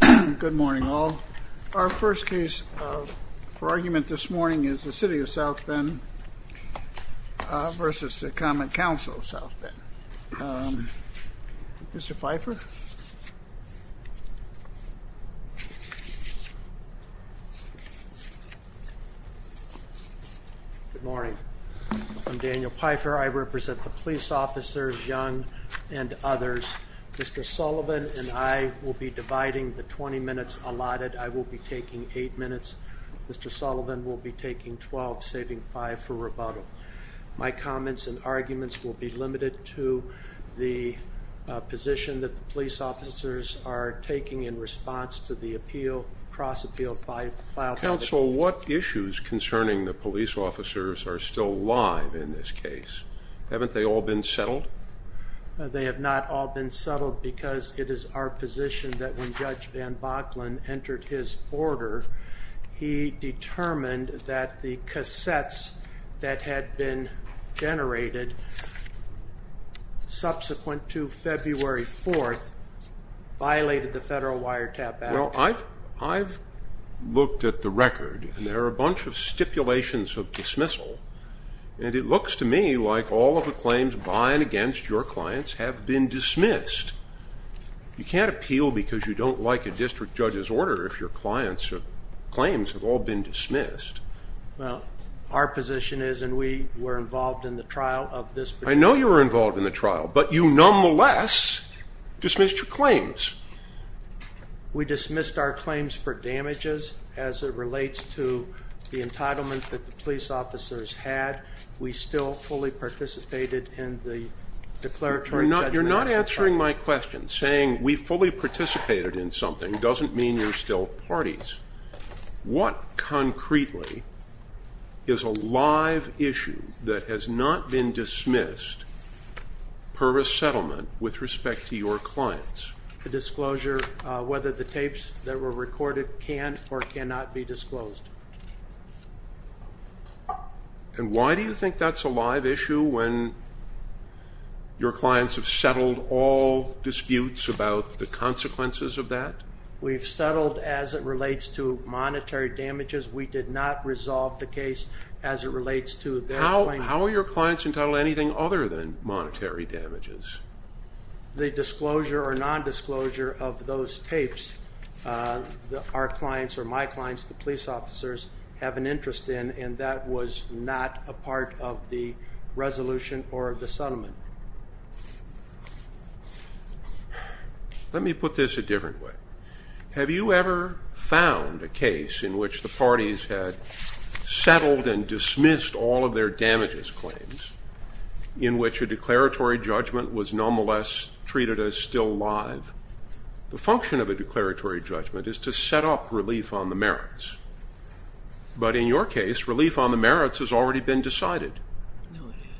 Good morning all. Our first case for argument this morning is the City of South Bend versus the Common Council of South Bend. Mr. Pfeiffer. Good morning. I'm Daniel Pfeiffer. I represent the police officers, Young and others. Mr. Sullivan and I will be dividing the 20 minutes allotted. I will be taking 8 minutes. Mr. Sullivan will be taking 12, saving 5 for rebuttal. My comments and arguments will be limited to the position that the police officers are taking in response to the appeal, cross-appeal filed by the police. Counsel, what issues concerning the police officers are still live in this case? Haven't they all been settled? They have not all been settled because it is our position that when Judge Van Bachlen entered his order, he determined that the cassettes that had been generated subsequent to February 4th violated the federal wiretap act. Well, I've looked at the record and there are a bunch of all of the claims by and against your clients have been dismissed. You can't appeal because you don't like a district judge's order if your clients or claims have all been dismissed. Well, our position is and we were involved in the trial of this. I know you were involved in the trial but you nonetheless dismissed your claims. We dismissed our claims for damages as it relates to the declaratory judgment. You're not answering my question. Saying we fully participated in something doesn't mean you're still parties. What concretely is a live issue that has not been dismissed per a settlement with respect to your clients? The disclosure whether the tapes that were recorded can or cannot be when your clients have settled all disputes about the consequences of that? We've settled as it relates to monetary damages. We did not resolve the case as it relates to... How are your clients entitled to anything other than monetary damages? The disclosure or non-disclosure of those tapes that our clients or my clients, the police officers, have an interest in and that was not a part of the resolution or the settlement. Let me put this a different way. Have you ever found a case in which the parties had settled and dismissed all of their damages claims in which a declaratory judgment was nonetheless treated as still live? The function of a declaratory judgment is to set up relief on the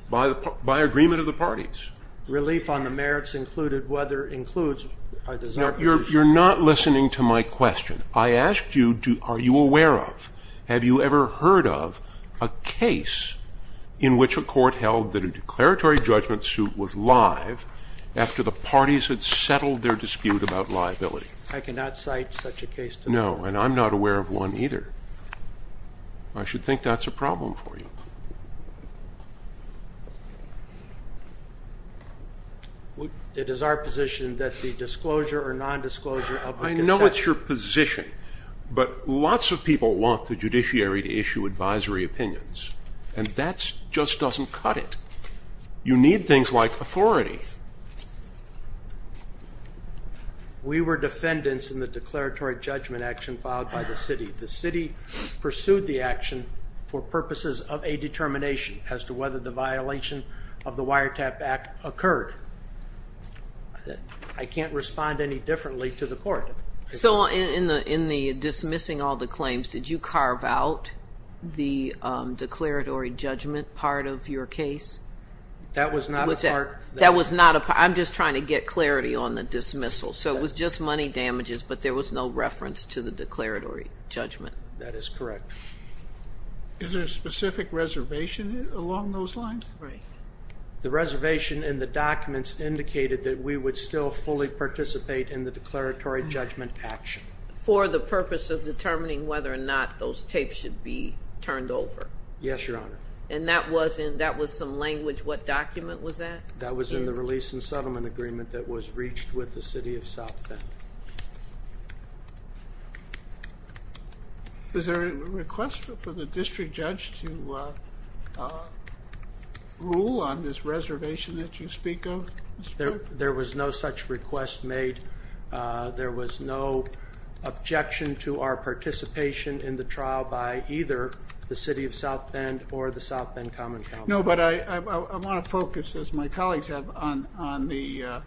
by agreement of the parties. Relief on the merits included whether includes... You're not listening to my question. I asked you, are you aware of, have you ever heard of a case in which a court held that a declaratory judgment suit was live after the parties had settled their dispute about liability? I cannot cite such a case. No, and I'm not aware of one either. I should think that's a problem for you. It is our position that the disclosure or non-disclosure... I know it's your position, but lots of people want the judiciary to issue advisory opinions and that just doesn't cut it. You need things like authority. We were defendants in the declaratory judgment action filed by the city. The city pursued the action for purposes of a determination as to whether the violation of the Wiretap Act occurred. I can't respond any differently to the court. So in the dismissing all the claims, did you carve out the declaratory judgment part of your case? That was not a part. That was not a part. I'm just trying to get clarity on the dismissal. So it was just money damages, but there was no reference to the declaratory judgment? That is correct. Is there a specific reservation along those lines? The reservation in the documents indicated that we would still fully participate in the declaratory judgment action. For the purpose of determining whether or not those tapes should be turned over? Yes, Your Honor. And that was some language, what document was that? That was in the Release and Settlement Agreement that was reached with the City of South Bend. Is there a request for the district judge to rule on this reservation that you speak of, Mr. Cook? There was no such request made. There was no objection to our participation in the trial by either the City of South Bend or the South Bend Common Council. No, but I do not believe that that would be a part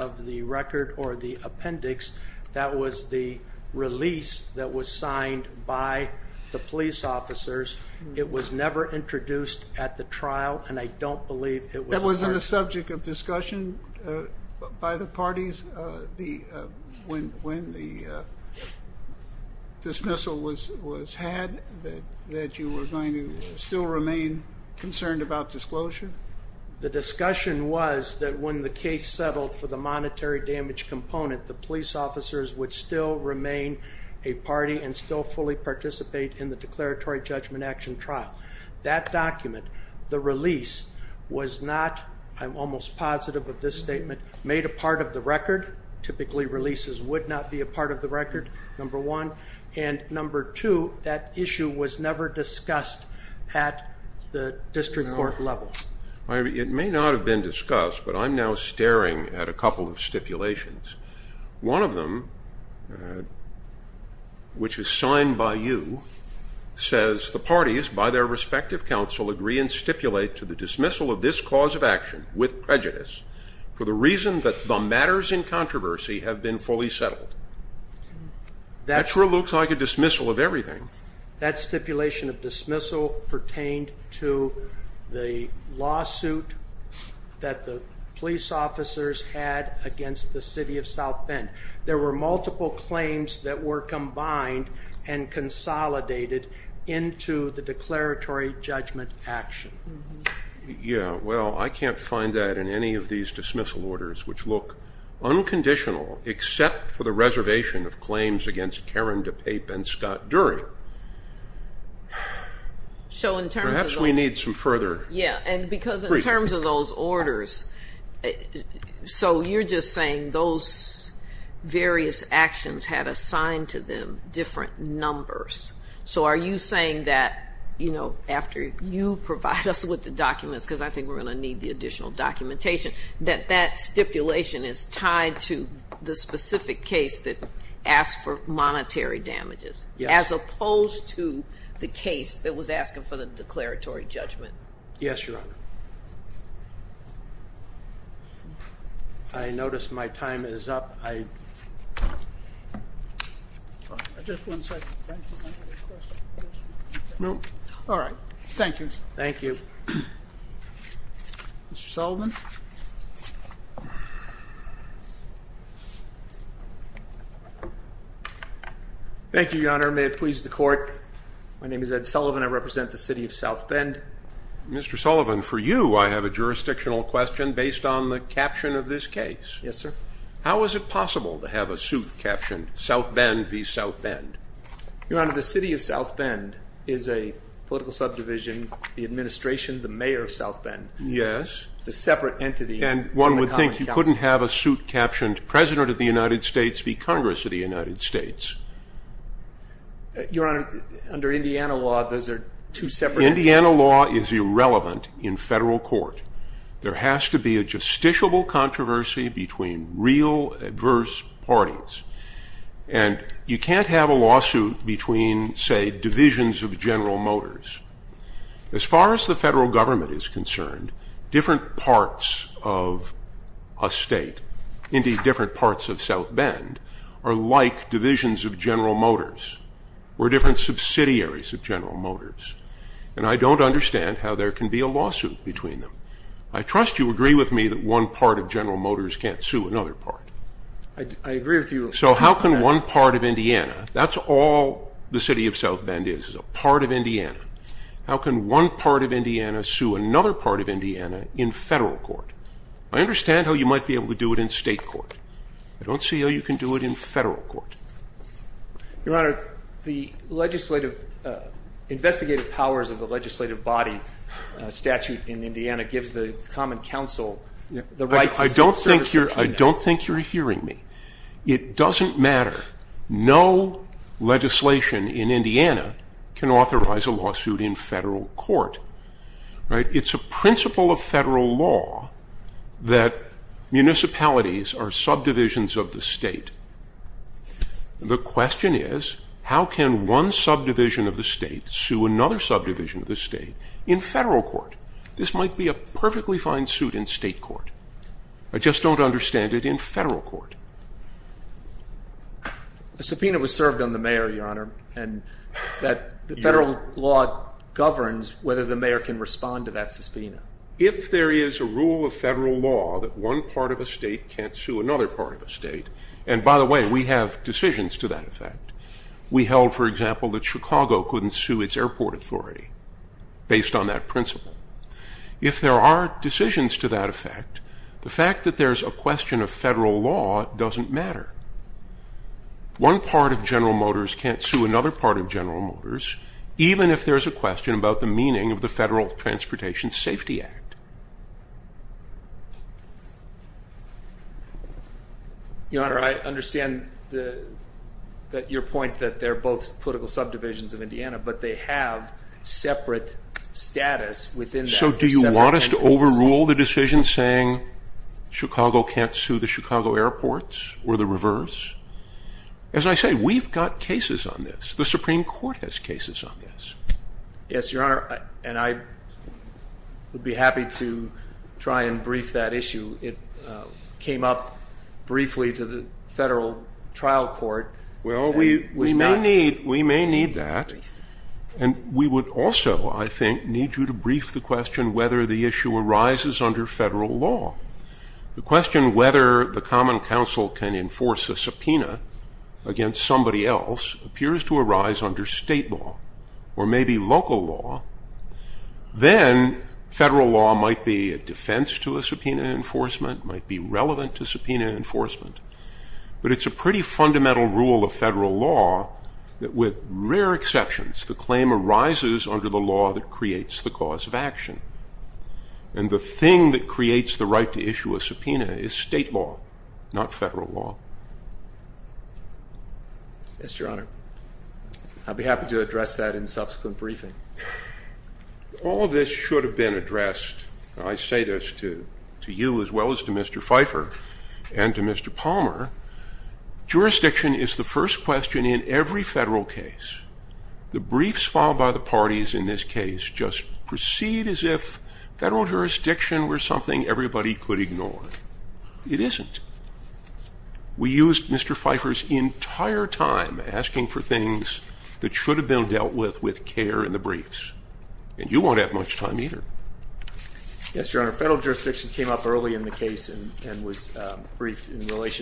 of the record or the appendix. That was the release that was signed by the police officers. It was never introduced at the trial, and I don't believe it was... That was on the subject of discussion by the parties when the dismissal was had, that you were going to still remain concerned about disclosure? The discussion was that when the case settled for the monetary damage component, the police officers would still remain a party and still fully participate in the declaratory judgment action trial. That document, the release, was not, I'm almost positive of this statement, made a part of the record. Typically, releases would not be a part of the record, number one. And number two, that issue was never discussed at the district court level. It may not have been discussed, but I'm now staring at a couple of stipulations. One of them, which is signed by you, says, the parties, by their respective counsel, agree and stipulate to the dismissal of this cause of action with prejudice for the reason that the matters in controversy have been fully settled. That sure looks like a dismissal of everything. That stipulation of dismissal pertained to the lawsuit that the police officers had against the city of South Bend. There were multiple claims that were combined and consolidated into the declaratory judgment action. Yeah, well, I can't find that in any of these dismissal orders, which look unconditional, except for the one that says... Perhaps we need some further... Yeah, and because in terms of those orders... So you're just saying those various actions had assigned to them different numbers. So are you saying that after you provide us with the documents, because I think we're gonna need the additional documentation, that that stipulation is tied to the specific case that asked for monetary declaratory judgment? Yes, Your Honor. I notice my time is up. I... Just one second. All right. Thank you. Thank you. Mr. Sullivan. Thank you, Your Honor. May it please the court. My name is Ed Sullivan. I represent the city of South Bend. Mr. Sullivan, for you, I have a jurisdictional question based on the caption of this case. Yes, sir. How is it possible to have a suit captioned, South Bend v. South Bend? Your Honor, the city of South Bend is a political subdivision, the administration, the mayor of South Bend. Yes. It's a separate entity. And one would think you couldn't have a suit captioned, President of the United States v. Congress of the United States. Your Honor, under Indiana law, those are two separate entities. Indiana law is irrelevant in federal court. There has to be a justiciable controversy between real adverse parties. And you can't have a lawsuit between, say, divisions of General Motors. As far as the federal government is concerned, different parts of a state, indeed different parts of South Bend, are like divisions of General Motors. We're different subsidiaries of General Motors. And I don't understand how there can be a lawsuit between them. I trust you agree with me that one part of General Motors can't sue another part. I agree with you. So how can one part of Indiana, that's all the city of South Bend is, is a part of Indiana. How can one part of Indiana sue another part of Indiana in federal court? I understand how you might be able to do it in state court. I don't see how you can do it in federal court. Your Honor, the legislative, investigative powers of the legislative body statute in Indiana gives the common counsel the right to sue services from them. I don't think you're hearing me. It doesn't matter. No legislation in Indiana can authorize a lawsuit in federal court. It's a principle of federal law that municipalities are subdivisions of the state. The question is, how can one subdivision of the state sue another subdivision of the state in federal court? This might be a perfectly fine in state court. I just don't understand it in federal court. A subpoena was served on the mayor, Your Honor, and that the federal law governs whether the mayor can respond to that subpoena. If there is a rule of federal law that one part of a state can't sue another part of a state, and by the way, we have decisions to that effect. We held, for example, that Chicago couldn't sue its airport authority based on that principle. If there are decisions to that effect, the fact that there's a question of federal law doesn't matter. One part of General Motors can't sue another part of General Motors, even if there's a question about the meaning of the Federal Transportation Safety Act. Your Honor, I understand that your point that they're both political subdivisions of Indiana, but they have separate status within that. So do you want us to overrule the decision saying Chicago can't sue the Chicago airports or the reverse? As I say, we've got cases on this. The Supreme Court has cases on this. Yes, Your Honor, and I would be happy to try and brief that issue. It came up briefly to the federal trial court. Well, we may need that, and we would also, I think, need you to brief the question whether the issue arises under federal law. The question whether the Common Council can enforce a subpoena against somebody else appears to arise under state law or maybe local law. Then federal law might be a defense to a subpoena enforcement, might be relevant to subpoena enforcement, but it's a pretty fundamental rule of federal law that, with rare exceptions, the claim arises under the law that creates the cause of action. And the thing that creates the right to issue a subpoena is state law, not federal law. Yes, Your Honor. I'd be happy to address that in subsequent briefing. All of this should have been addressed, and I say this to you as well as to Mr. Palmer. Jurisdiction is the first question in every federal case. The briefs filed by the parties in this case just proceed as if federal jurisdiction were something everybody could ignore. It isn't. We used Mr. Pfeiffer's entire time asking for things that should have been dealt with with care in the briefs, and you won't have much time either. Yes, Your Honor, federal jurisdiction came up in relation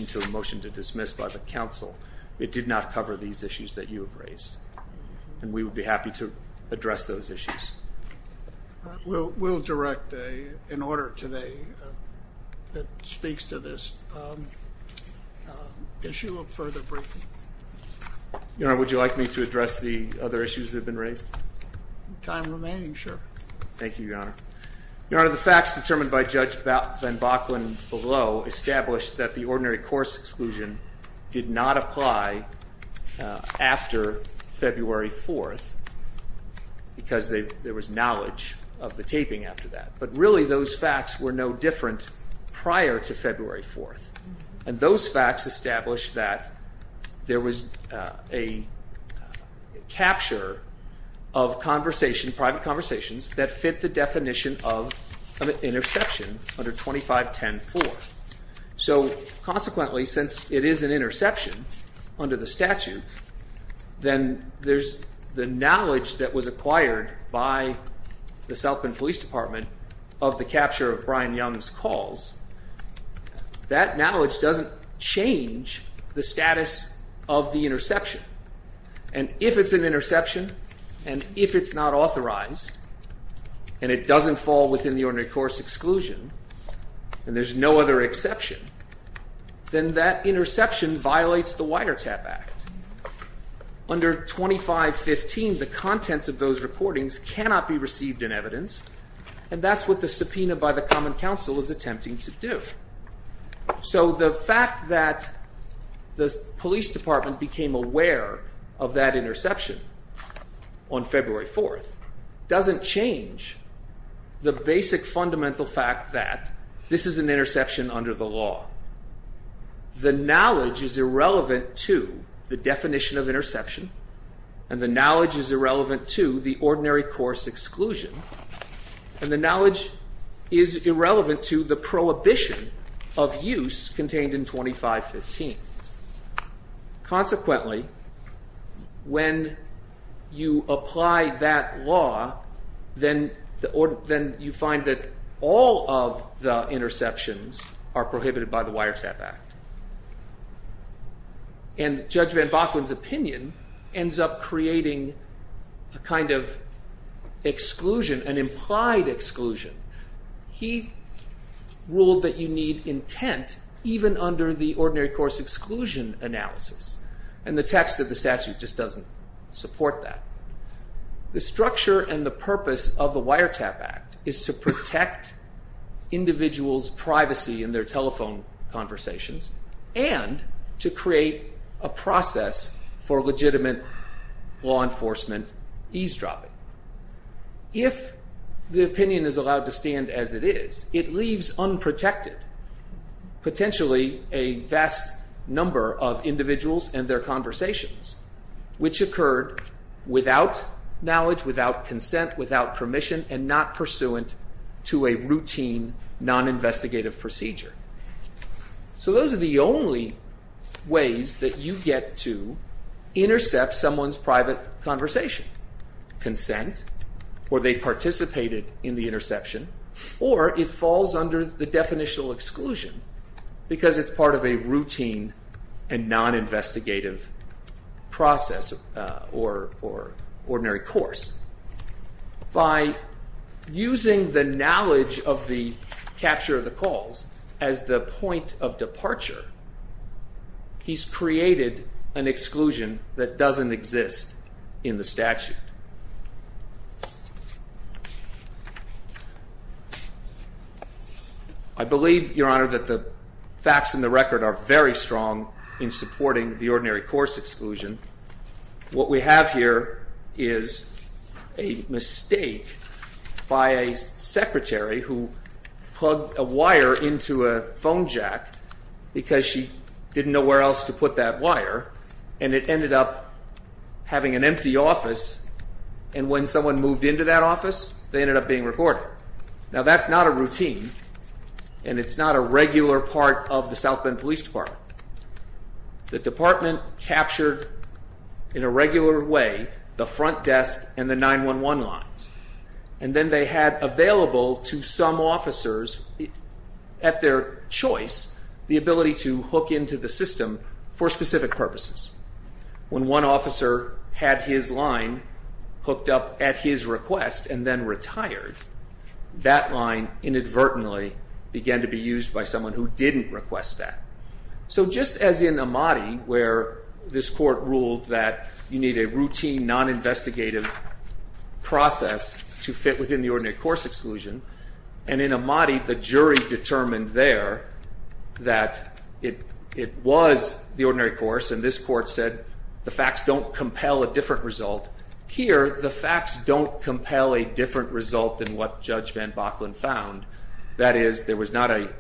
to a motion to dismiss by the counsel. It did not cover these issues that you have raised, and we would be happy to address those issues. We'll direct an order today that speaks to this issue of further briefings. Your Honor, would you like me to address the other issues that have been raised? Time remaining, sure. Thank you, Your Honor. Your Honor, the facts determined by Judge ordinary course exclusion did not apply after February 4th, because there was knowledge of the taping after that. But really, those facts were no different prior to February 4th, and those facts established that there was a capture of conversation, private conversations, that fit the definition of an interception under 2510.4. So consequently, since it is an interception under the statute, then there's the knowledge that was acquired by the South Bend Police Department of the capture of Brian Young's calls. That knowledge doesn't change the status of the interception. And if it's an interception, and if it's not authorized, and it doesn't fall within the ordinary course exclusion, and there's no other exception, then that interception violates the Wiretap Act. Under 2515, the contents of those reportings cannot be received in evidence, and that's what the subpoena by the Common Council is attempting to do. So the fact that the police department became aware of that interception on February 4th doesn't change the basic fundamental fact that this is an interception under the law. The knowledge is irrelevant to the definition of interception, and the knowledge is irrelevant to the ordinary course exclusion, and the knowledge is irrelevant to the prohibition of use contained in 2515. Consequently, when you apply that law, then you find that all of the interceptions are prohibited by the Wiretap Act. And Judge Van Bakken's opinion ends up creating a kind of exclusion, an implied exclusion. He ruled that you need intent even under the ordinary course exclusion analysis, and the text of the statute just doesn't support that. The structure and the purpose of the Wiretap Act is to protect individuals' privacy in their telephone conversations, and to create a process for legitimate law enforcement eavesdropping. If the opinion is allowed to stand as it is, it leaves unprotected potentially a vast number of individuals and their conversations, which occurred without knowledge, without consent, without permission, and not pursuant to a routine non-investigative procedure. So those are the only ways that you get to consent, or they participated in the interception, or it falls under the definitional exclusion, because it's part of a routine and non-investigative process or ordinary course. By using the knowledge of the capture of the calls as the point of departure, he's created an exclusion that doesn't exist in the statute. I believe, Your Honor, that the facts in the record are very strong in supporting the ordinary course exclusion. What we have here is a mistake by a secretary who plugged a wire into a phone jack because she didn't know where else to put that wire, and it ended up having an empty office, and when someone moved into that office, they ended up being recorded. Now that's not a routine, and it's not a regular part of the South Bend Police Department. The department captured in a regular way the front desk and the 911 lines, and then they had for specific purposes. When one officer had his line hooked up at his request and then retired, that line inadvertently began to be used by someone who didn't request that. So just as in Amati, where this court ruled that you need a routine non-investigative process to fit within the ordinary course exclusion, and in was the ordinary course, and this court said the facts don't compel a different result. Here, the facts don't compel a different result than what Judge Van Boklen found. That is, there was not a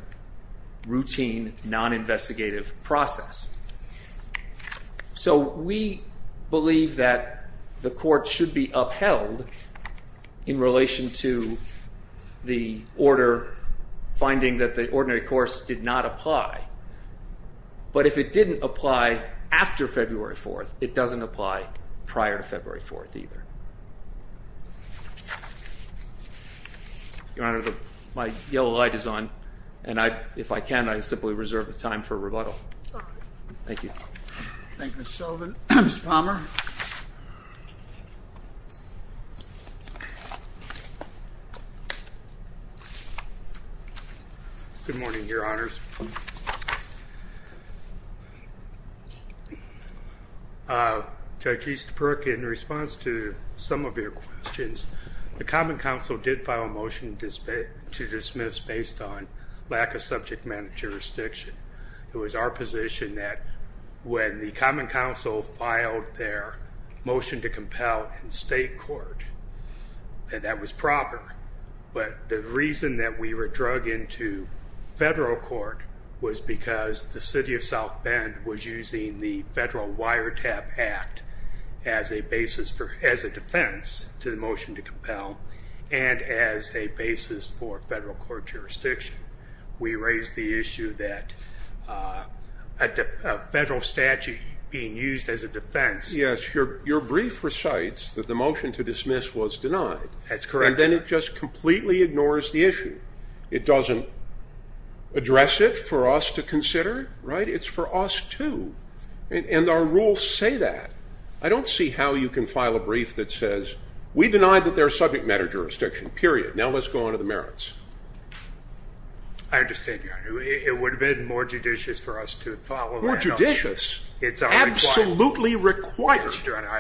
routine non-investigative process. So we believe that the court should be upheld in relation to the order finding that the it didn't apply after February 4th, it doesn't apply prior to February 4th either. Your Honor, my yellow light is on, and if I can, I simply reserve the time for rebuttal. Thank you. Thank you, Mr. Sullivan. Mr. Palmer. Good morning, Your Honors. Judge Eastbrook, in response to some of your questions, the Common Council did file a motion to dismiss based on lack of subject matter jurisdiction. It was our position that when the Common Council filed their motion to compel in state court, that that was proper, but the reason that we were drug into federal court was because the City of South Bend was using the Federal Wiretap Act as a basis for, as a defense to the motion to compel, and as a basis for federal court jurisdiction. We raised the issue that a defense... Yes, your brief recites that the motion to dismiss was denied. That's correct. And then it just completely ignores the issue. It doesn't address it for us to consider, right? It's for us too, and our rules say that. I don't see how you can file a brief that says, we denied that there's subject matter jurisdiction, period. Now let's go on to the merits. I understand, Your Honor. It would have been more required. I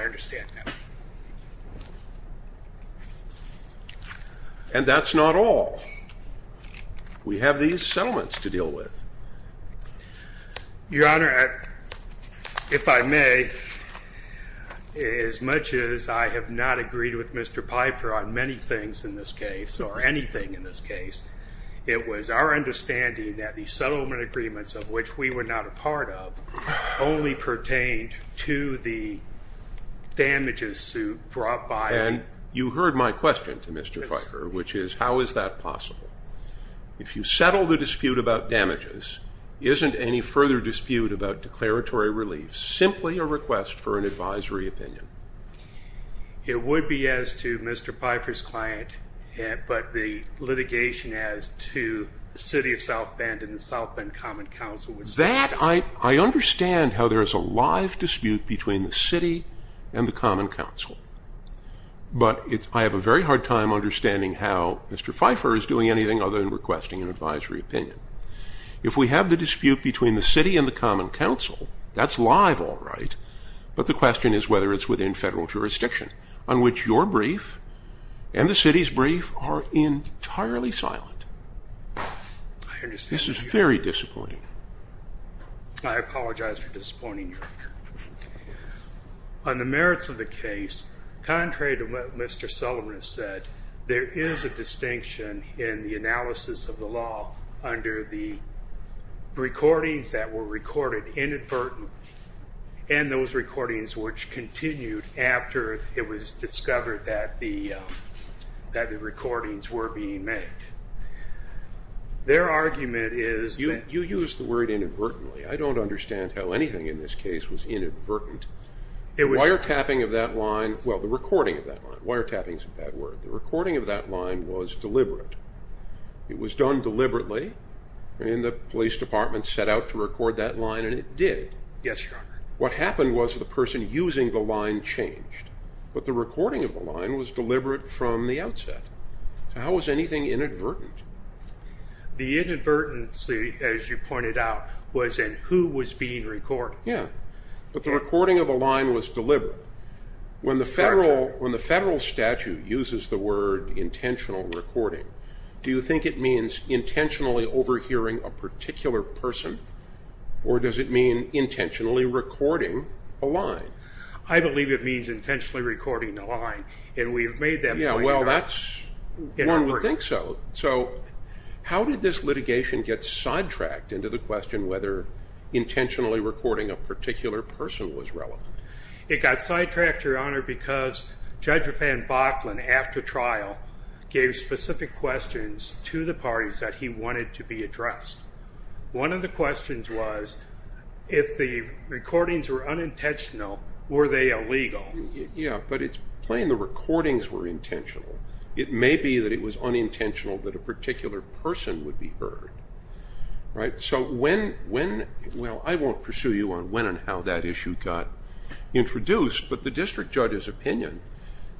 understand that. And that's not all. We have these settlements to deal with. Your Honor, if I may, as much as I have not agreed with Mr. Piper on many things in this case, or anything in this case, it was our understanding that these would be as to the damages brought by... And you heard my question to Mr. Piper, which is, how is that possible? If you settle the dispute about damages, isn't any further dispute about declaratory relief simply a request for an advisory opinion? It would be as to Mr. Piper's client, but the litigation as to the City of South Bend and the South Bend Common Council would... That, I understand how there is a live dispute between the City and the Common Council, but I have a very hard time understanding how Mr. Piper is doing anything other than requesting an advisory opinion. If we have the dispute between the City and the Common Council, that's live, all right, but the question is whether it's within federal jurisdiction, on which your brief and the City's brief are entirely silent. This is very disappointing. I apologize for disappointing you, Your Honor. On the merits of the case, contrary to what Mr. Sullivan said, there is a distinction in the analysis of the law under the recordings that were recorded inadvertently, and those recordings which continued after it was discovered that the recordings were being made. Their argument is that... You used the word inadvertently. I don't understand how anything in this case was inadvertent. Wiretapping of that line, well, the recording of that line, wiretapping is a bad word, the recording of that line was deliberate. It was done deliberately, and the police department set out to record that line, and it did. Yes, Your Honor. What happened was the person using the line changed, but the recording of the line was deliberate from the outset. How is anything inadvertent? The inadvertency, as you pointed out, was in who was being recorded. Yes, but the recording of the line was deliberate. When the federal statute uses the word intentional recording, do you think it means intentionally overhearing a particular person, or does it mean intentionally recording a line? I believe it means intentionally recording a line, and we have made that point. Yes, well, one would think so. How did this litigation get sidetracked into the question whether intentionally recording a particular person was relevant? It got sidetracked, Your Honor, because Judge Riffan Bachlan, after trial, gave specific questions to the parties that he wanted to be addressed. One of the questions was if the recordings were unintentional, were they illegal? Yes, but it's plain the recordings were intentional. It may be that it was unintentional that a particular person would be heard. I won't pursue you on when and how that issue got introduced, but the district judge's opinion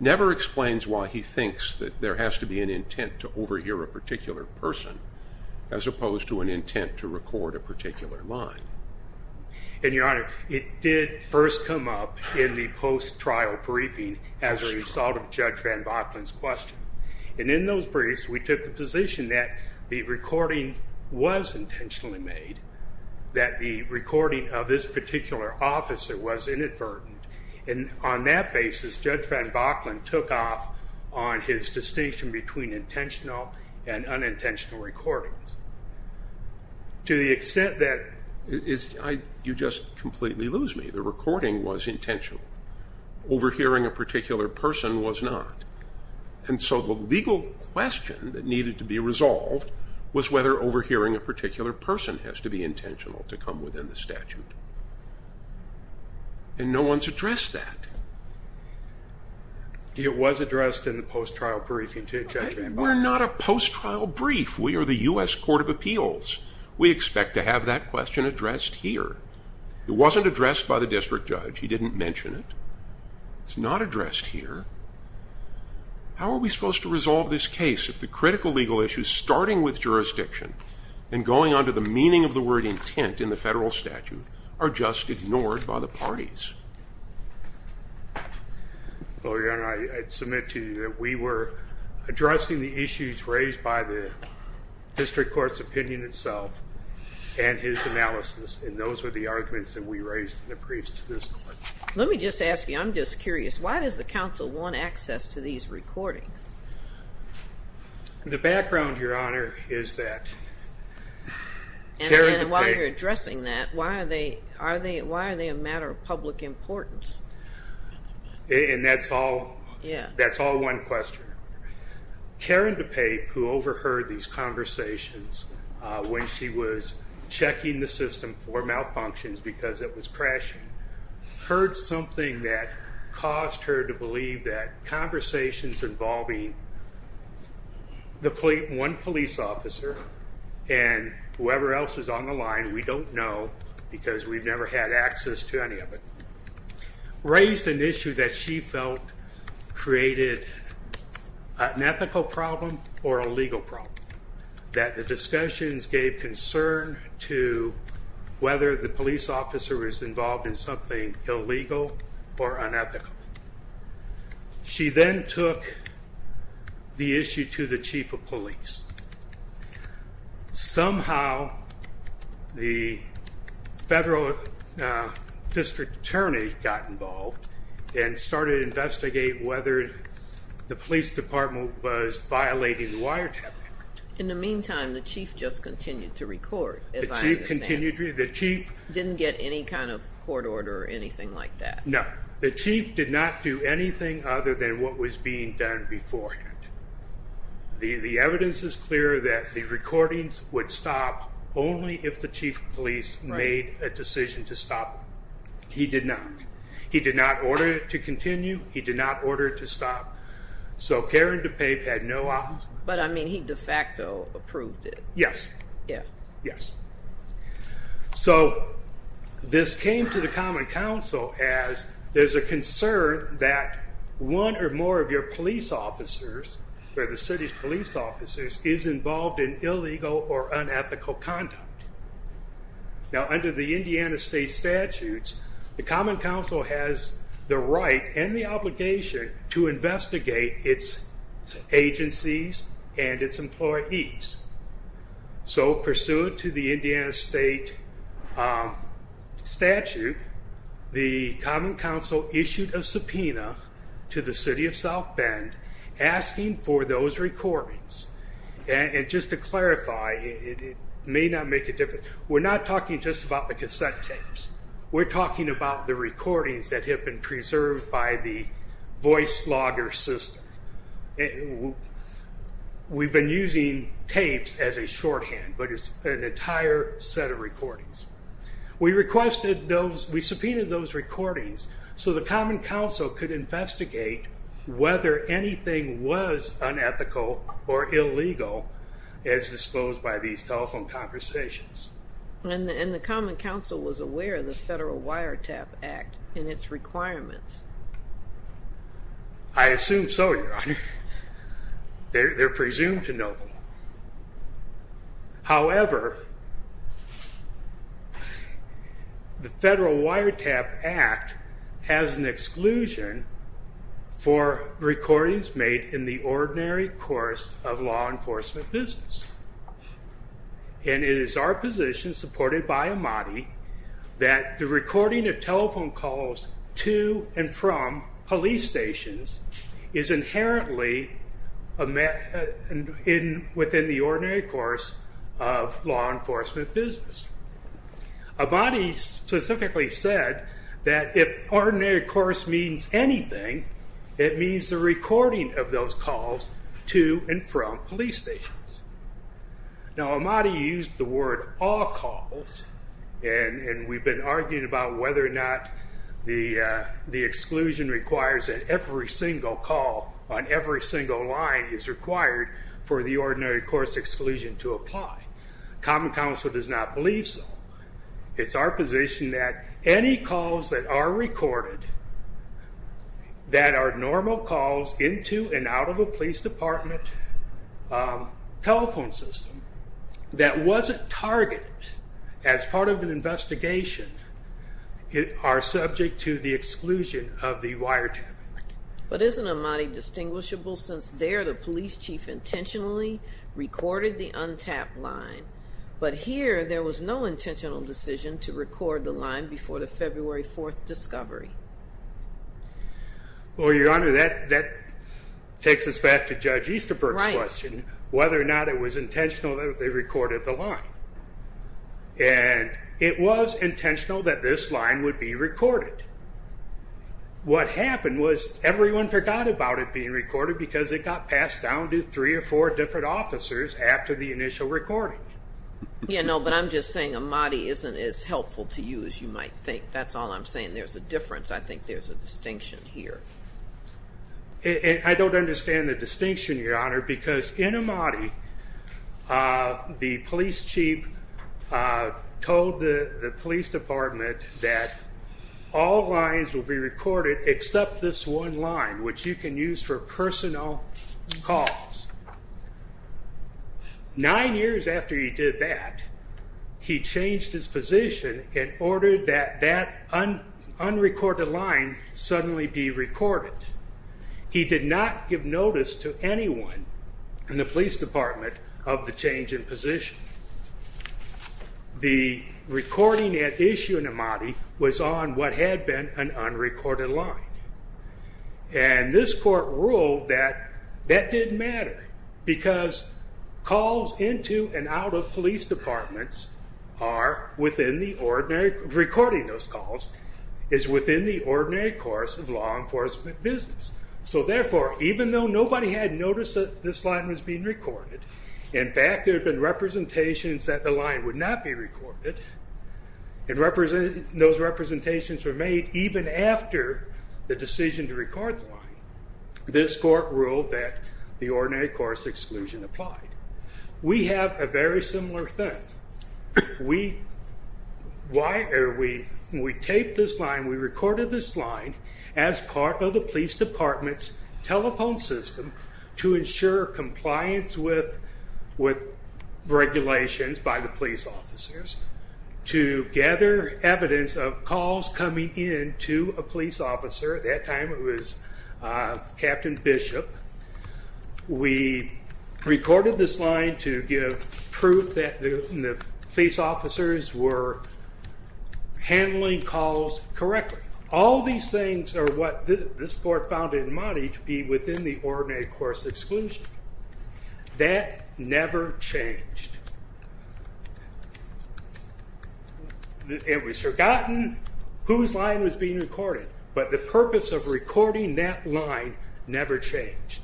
never explains why he thinks that there has to be an intent to overhear a particular person, as opposed to an intent to record a particular line. And, Your Honor, it did first come up in the post-trial briefing as a result of Judge Riffan Bachlan's question. And in those briefs, we took the position that the recording was intentionally made, that the recording of this particular officer was inadvertent, and on that basis, Judge Riffan Bachlan took off on his distinction between intentional and unintentional recordings. To the extent that you just completely lose me. The recording was intentional. Overhearing a particular person was not. And so the legal question that needed to be resolved was whether overhearing a particular person has to be intentional to come within the statute. And no one's addressed that. It was addressed in the post-trial briefing to Judge Riffan Bachlan. We're not a post-trial brief. We are the U.S. Court of Appeals. We expect to have that question addressed here. It wasn't addressed by the district judge. He didn't mention it. It's not addressed here. How are we supposed to resolve this case if the critical legal issue, starting with jurisdiction and going on to the meaning of the word intent in the federal statute, are just ignored by the parties? Well, Your Honor, I submit to you that we were addressing the issues raised by the district court's opinion itself and his analysis, and those were the arguments that we raised in the briefs to this court. Let me just ask you, I'm just curious, why does the counsel want access to these recordings? The background, Your Honor, is that Karen DePaepe And while you're addressing that, why are they a matter of public importance? And that's all one question. Karen DePaepe, who overheard these conversations when she was checking the system for malfunctions because it was crashing, heard something that caused her to believe that conversations involving one police officer and whoever else was on the line, we don't know because we've never had access to any of it, raised an issue that she felt created an ethical problem or a legal problem, that the discussions gave concern to whether the police officer was involved in something illegal or unethical. She then took the issue to the chief of police. Somehow, the federal district attorney got involved and started to investigate whether the police department was violating the wiretapping. In the meantime, the chief just continued to record, as I understand. The chief continued to record. The chief didn't get any kind of court order or anything like that. No, the chief did not do anything other than what was being done beforehand. The evidence is clear that the recordings would stop only if the chief of police made a decision to stop them. He did not. He did not order it to continue. He did not order it to stop. So Karen DePave had no option. But, I mean, he de facto approved it. Yes. Yeah. Yes. So this came to the Common Council as there's a concern that one or more of your police officers, or the city's police officers, is involved in illegal or unethical conduct. Now, under the Indiana state statutes, the Common Council has the right and the obligation to investigate its agencies and its employees. So, pursuant to the Indiana state statute, the Common Council issued a subpoena to the city of South Bend asking for those recordings. Just to clarify, it may not make a difference. We're not talking just about the cassette tapes. We're talking about the recordings that have been preserved by the voice logger system. We've been using tapes as a shorthand, but it's an entire set of recordings. We requested those. So the Common Council could investigate whether anything was unethical or illegal as disposed by these telephone conversations. And the Common Council was aware of the Federal Wiretap Act and its requirements. I assume so, Your Honor. They're presumed to know them. However, the Federal Wiretap Act has an exclusion for recordings made in the ordinary course of law enforcement business. And it is our position, supported by Amati, that the recording of telephone calls to and from police stations is inherently within the ordinary course of law enforcement business. Amati specifically said that if ordinary course means anything, it means the recording of those calls to and from police stations. Now, Amati used the word all calls. And we've been arguing about whether or not the exclusion requires that every single call on every single line is required for the ordinary course exclusion to apply. Common Council does not believe so. It's our position that any calls that are recorded, that are normal calls into and out of a police department telephone system, that wasn't targeted as part of an investigation, are subject to the exclusion of the wiretap. But isn't Amati distinguishable since there the police chief intentionally recorded the untapped line, but here there was no intentional decision to record the line before the February 4th discovery? Well, Your Honor, that takes us back to Judge Easterberg's question, whether or not it was intentional that they recorded the line. And it was intentional that this line would be recorded. What happened was everyone forgot about it being recorded because it got passed down to three or four different officers after the initial recording. Yeah, no, but I'm just saying Amati isn't as helpful to you as you might think. That's all I'm saying. There's a difference. I think there's a distinction here. I don't understand the distinction, Your Honor, because in Amati, the police chief told the police department that all lines will be recorded except this one line, which you can use for personal calls. Nine years after he did that, he changed his position and ordered that that unrecorded line suddenly be recorded. He did not give notice to anyone in the police department of the change in position. The recording at issue in Amati was on what had been an unrecorded line, and this court ruled that that didn't matter because calls into and out of police departments are within the ordinary... Recording those calls is within the ordinary course of law enforcement business. So therefore, even though nobody had noticed that this line was being recorded, in fact there had been representations that the line would not be recorded, and those representations were made even after the decision to record the line. This court ruled that the ordinary course exclusion applied. We have a very similar thing. When we taped this line, we recorded this line as part of the police department's telephone system to ensure compliance with regulations by the police officers to gather evidence of calls coming in to a police officer. At that time, it was Captain Bishop. We recorded this line to give proof that the police officers were handling calls correctly. All these things are what this court found in Amati to be within the ordinary course exclusion. That never changed. It was forgotten whose line was being recorded, but the purpose of recording that line never changed.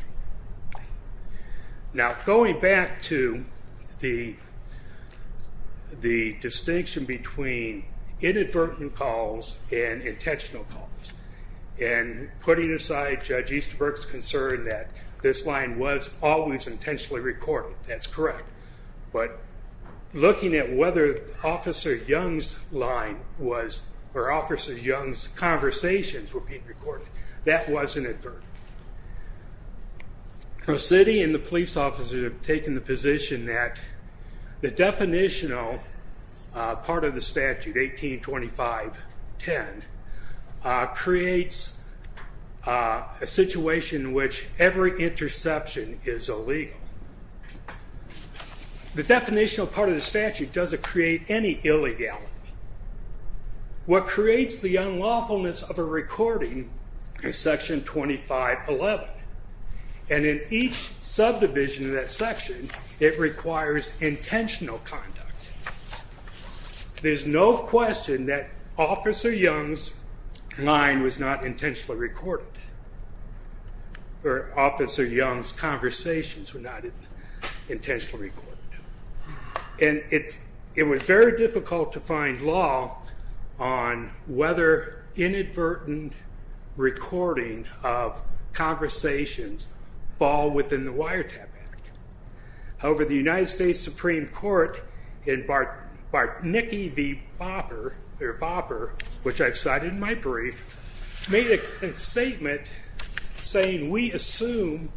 Now, going back to the distinction between inadvertent calls and intentional calls and putting aside Judge Easterberg's concern that this line was always intentionally recorded. That's correct. Looking at whether Officer Young's conversations were being recorded, that was inadvertent. The city and the police officers have taken the position that the definitional part of the statute, 1825.10, creates a situation in which every interception is illegal. The definitional part of the statute doesn't create any illegality. What creates the unlawfulness of a recording is section 25.11, and in each subdivision of that section, it requires intentional conduct. There's no question that Officer Young's line was not intentionally recorded, or Officer Young's conversations were not intentionally recorded. It was very difficult to find law on whether inadvertent recording of conversations fall within the Wiretap Act. However, the United States Supreme Court in Bartnicki v. Fopper, which I've cited in my brief, made a statement saying, we assume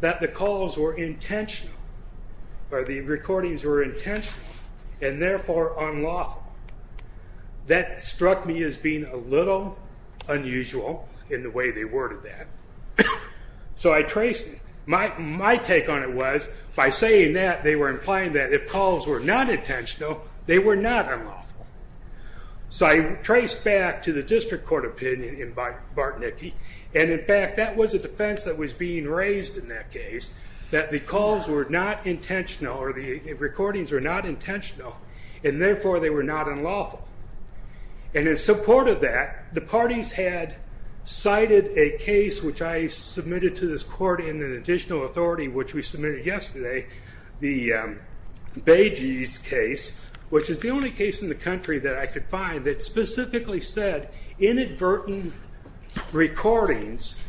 that the calls were intentional, or the recordings were intentional, and therefore unlawful. That struck me as being a little unusual in the way they worded that, so I traced it. My take on it was, by saying that, they were implying that if calls were not intentional, they were not unlawful. I traced back to the district court opinion in Bartnicki. In fact, that was a defense that was being raised in that case, that the calls were not intentional, or the recordings were not intentional, and therefore they were not unlawful. In support of that, the parties had cited a case which I submitted to this court in an additional authority, which we submitted yesterday, the Bages case, which is the only case in the country that I could find that specifically said, inadvertent recordings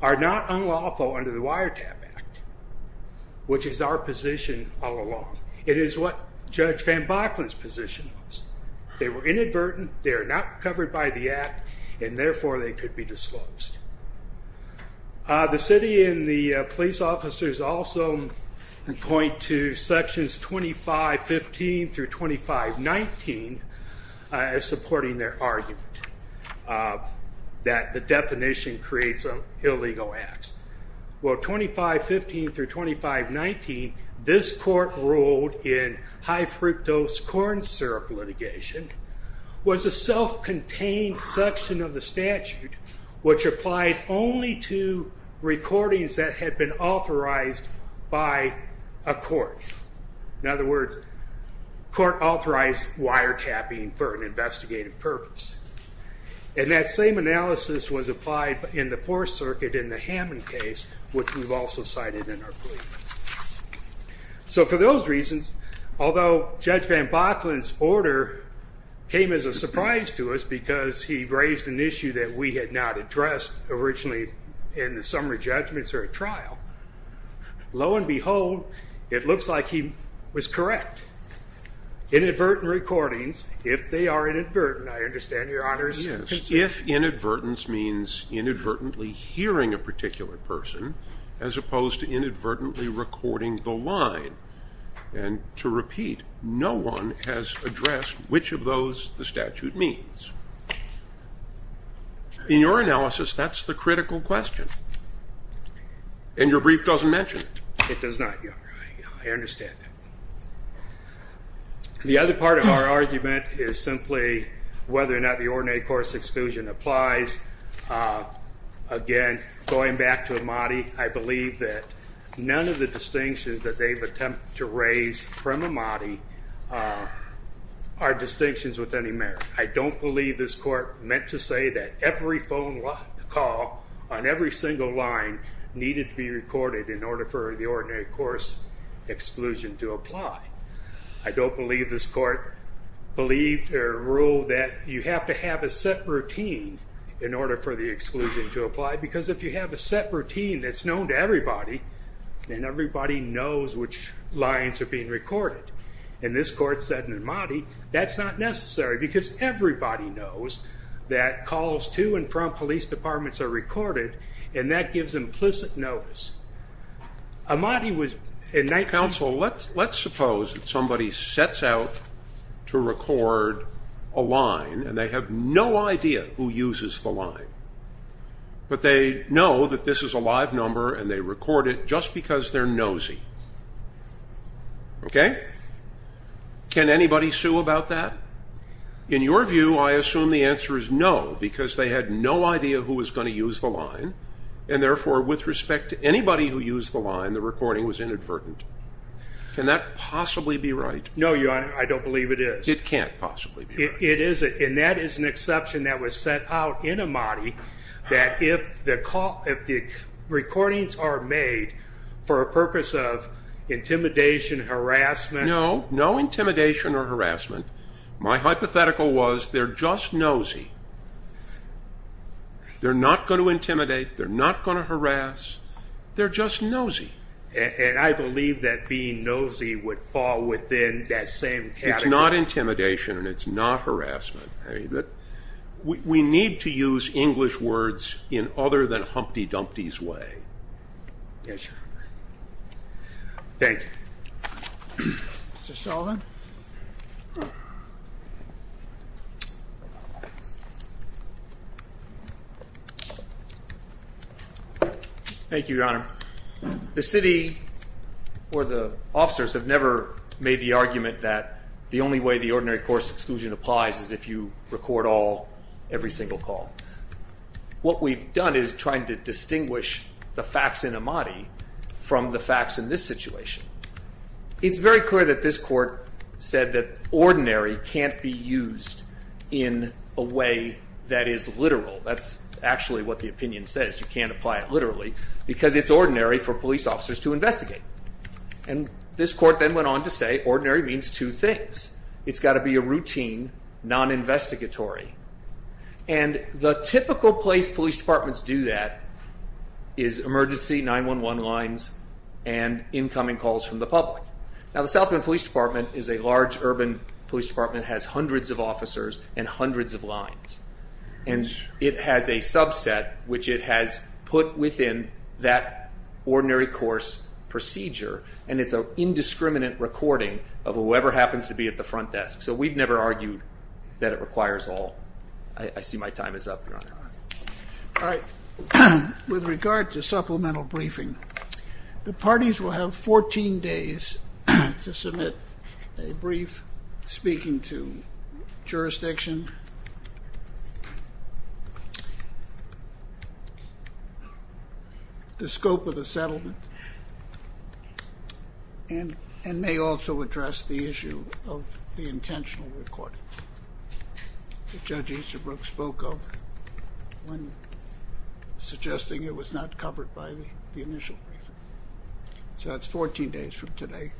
are not unlawful under the Wiretap Act, which is our position all along. It is what Judge Van Bachlen's position was. They were inadvertent, they are not covered by the act, and therefore they could be disclosed. The city and the police officers also point to sections 2515 through 2519 as supporting their argument that the definition creates illegal acts. Well, 2515 through 2519, this court ruled in high fructose corn syrup litigation, was a self-contained section of the statute, which applied only to recordings that had been authorized by a court. In other words, court authorized wiretapping for an investigative purpose. And that same analysis was applied in the Fourth Circuit in the Hammond case, which we've also cited in our plea. So for those reasons, although Judge Van Bachlen's order came as a surprise to us because he raised an issue that we had not addressed originally in the summary judgments or at trial, lo and behold, it looks like he was correct. Inadvertent recordings, if they are inadvertent, I understand, Your Honors. Yes, if inadvertence means inadvertently hearing a particular person as opposed to inadvertently recording the line. And to repeat, no one has addressed which of those the statute means. In your analysis, that's the critical question. And your brief doesn't mention it. It does not, Your Honor. I understand that. The other part of our argument is simply whether or not the ordinary course exclusion applies. Again, going back to Amati, I believe that none of the distinctions that they've attempted to raise from Amati are distinctions with any merit. I don't believe this court meant to say that every phone call on every single line needed to be recorded in order for the ordinary course exclusion to apply. I don't believe this court believed or ruled that you have to have a set routine in order for the exclusion to apply because if you have a set routine that's known to everybody, then everybody knows which lines are being recorded. And this court said in Amati, that's not necessary because everybody knows that calls to and from police departments are recorded, and that gives implicit notice. Amati was in 19- Counsel, let's suppose that somebody sets out to record a line and they have no idea who uses the line. But they know that this is a live number and they record it just because they're nosy. Okay? Can anybody sue about that? In your view, I assume the answer is no because they had no idea who was going to use the line and, therefore, with respect to anybody who used the line, the recording was inadvertent. Can that possibly be right? No, Your Honor, I don't believe it is. It can't possibly be right. It isn't, and that is an exception that was set out in Amati that if the recordings are made for a purpose of intimidation, harassment- No, no intimidation or harassment. My hypothetical was they're just nosy. They're not going to intimidate. They're not going to harass. They're just nosy. And I believe that being nosy would fall within that same category. It's not intimidation and it's not harassment. We need to use English words in other than Humpty Dumpty's way. Yes, Your Honor. Thank you. Mr. Sullivan. Thank you, Your Honor. The city or the officers have never made the argument that the only way the ordinary course exclusion applies is if you record every single call. What we've done is tried to distinguish the facts in Amati from the facts in this situation. It's very clear that this court said that ordinary can't be used in a way that is literal. That's actually what the opinion says. You can't apply it literally because it's ordinary for police officers to investigate. And this court then went on to say ordinary means two things. It's got to be a routine, non-investigatory. And the typical place police departments do that is emergency 911 lines and incoming calls from the public. Now, the South Bend Police Department is a large urban police department. It has hundreds of officers and hundreds of lines. And it has a subset which it has put within that ordinary course procedure. And it's an indiscriminate recording of whoever happens to be at the front desk. So we've never argued that it requires all. I see my time is up, Your Honor. All right. With regard to supplemental briefing, the parties will have 14 days to submit a brief speaking to jurisdiction... ..the scope of the settlement... ..and may also address the issue of the intentional recording that Judge Easterbrook spoke of when suggesting it was not covered by the initial briefing. So that's 14 days from today.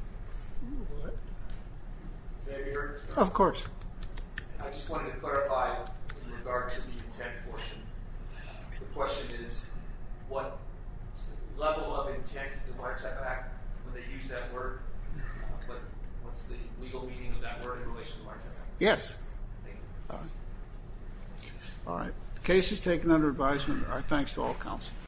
Of course. Would they use that word? What's the legal meaning of that word in relation to our case? Yes. All right. The case is taken under advisement. Our thanks to all counsel.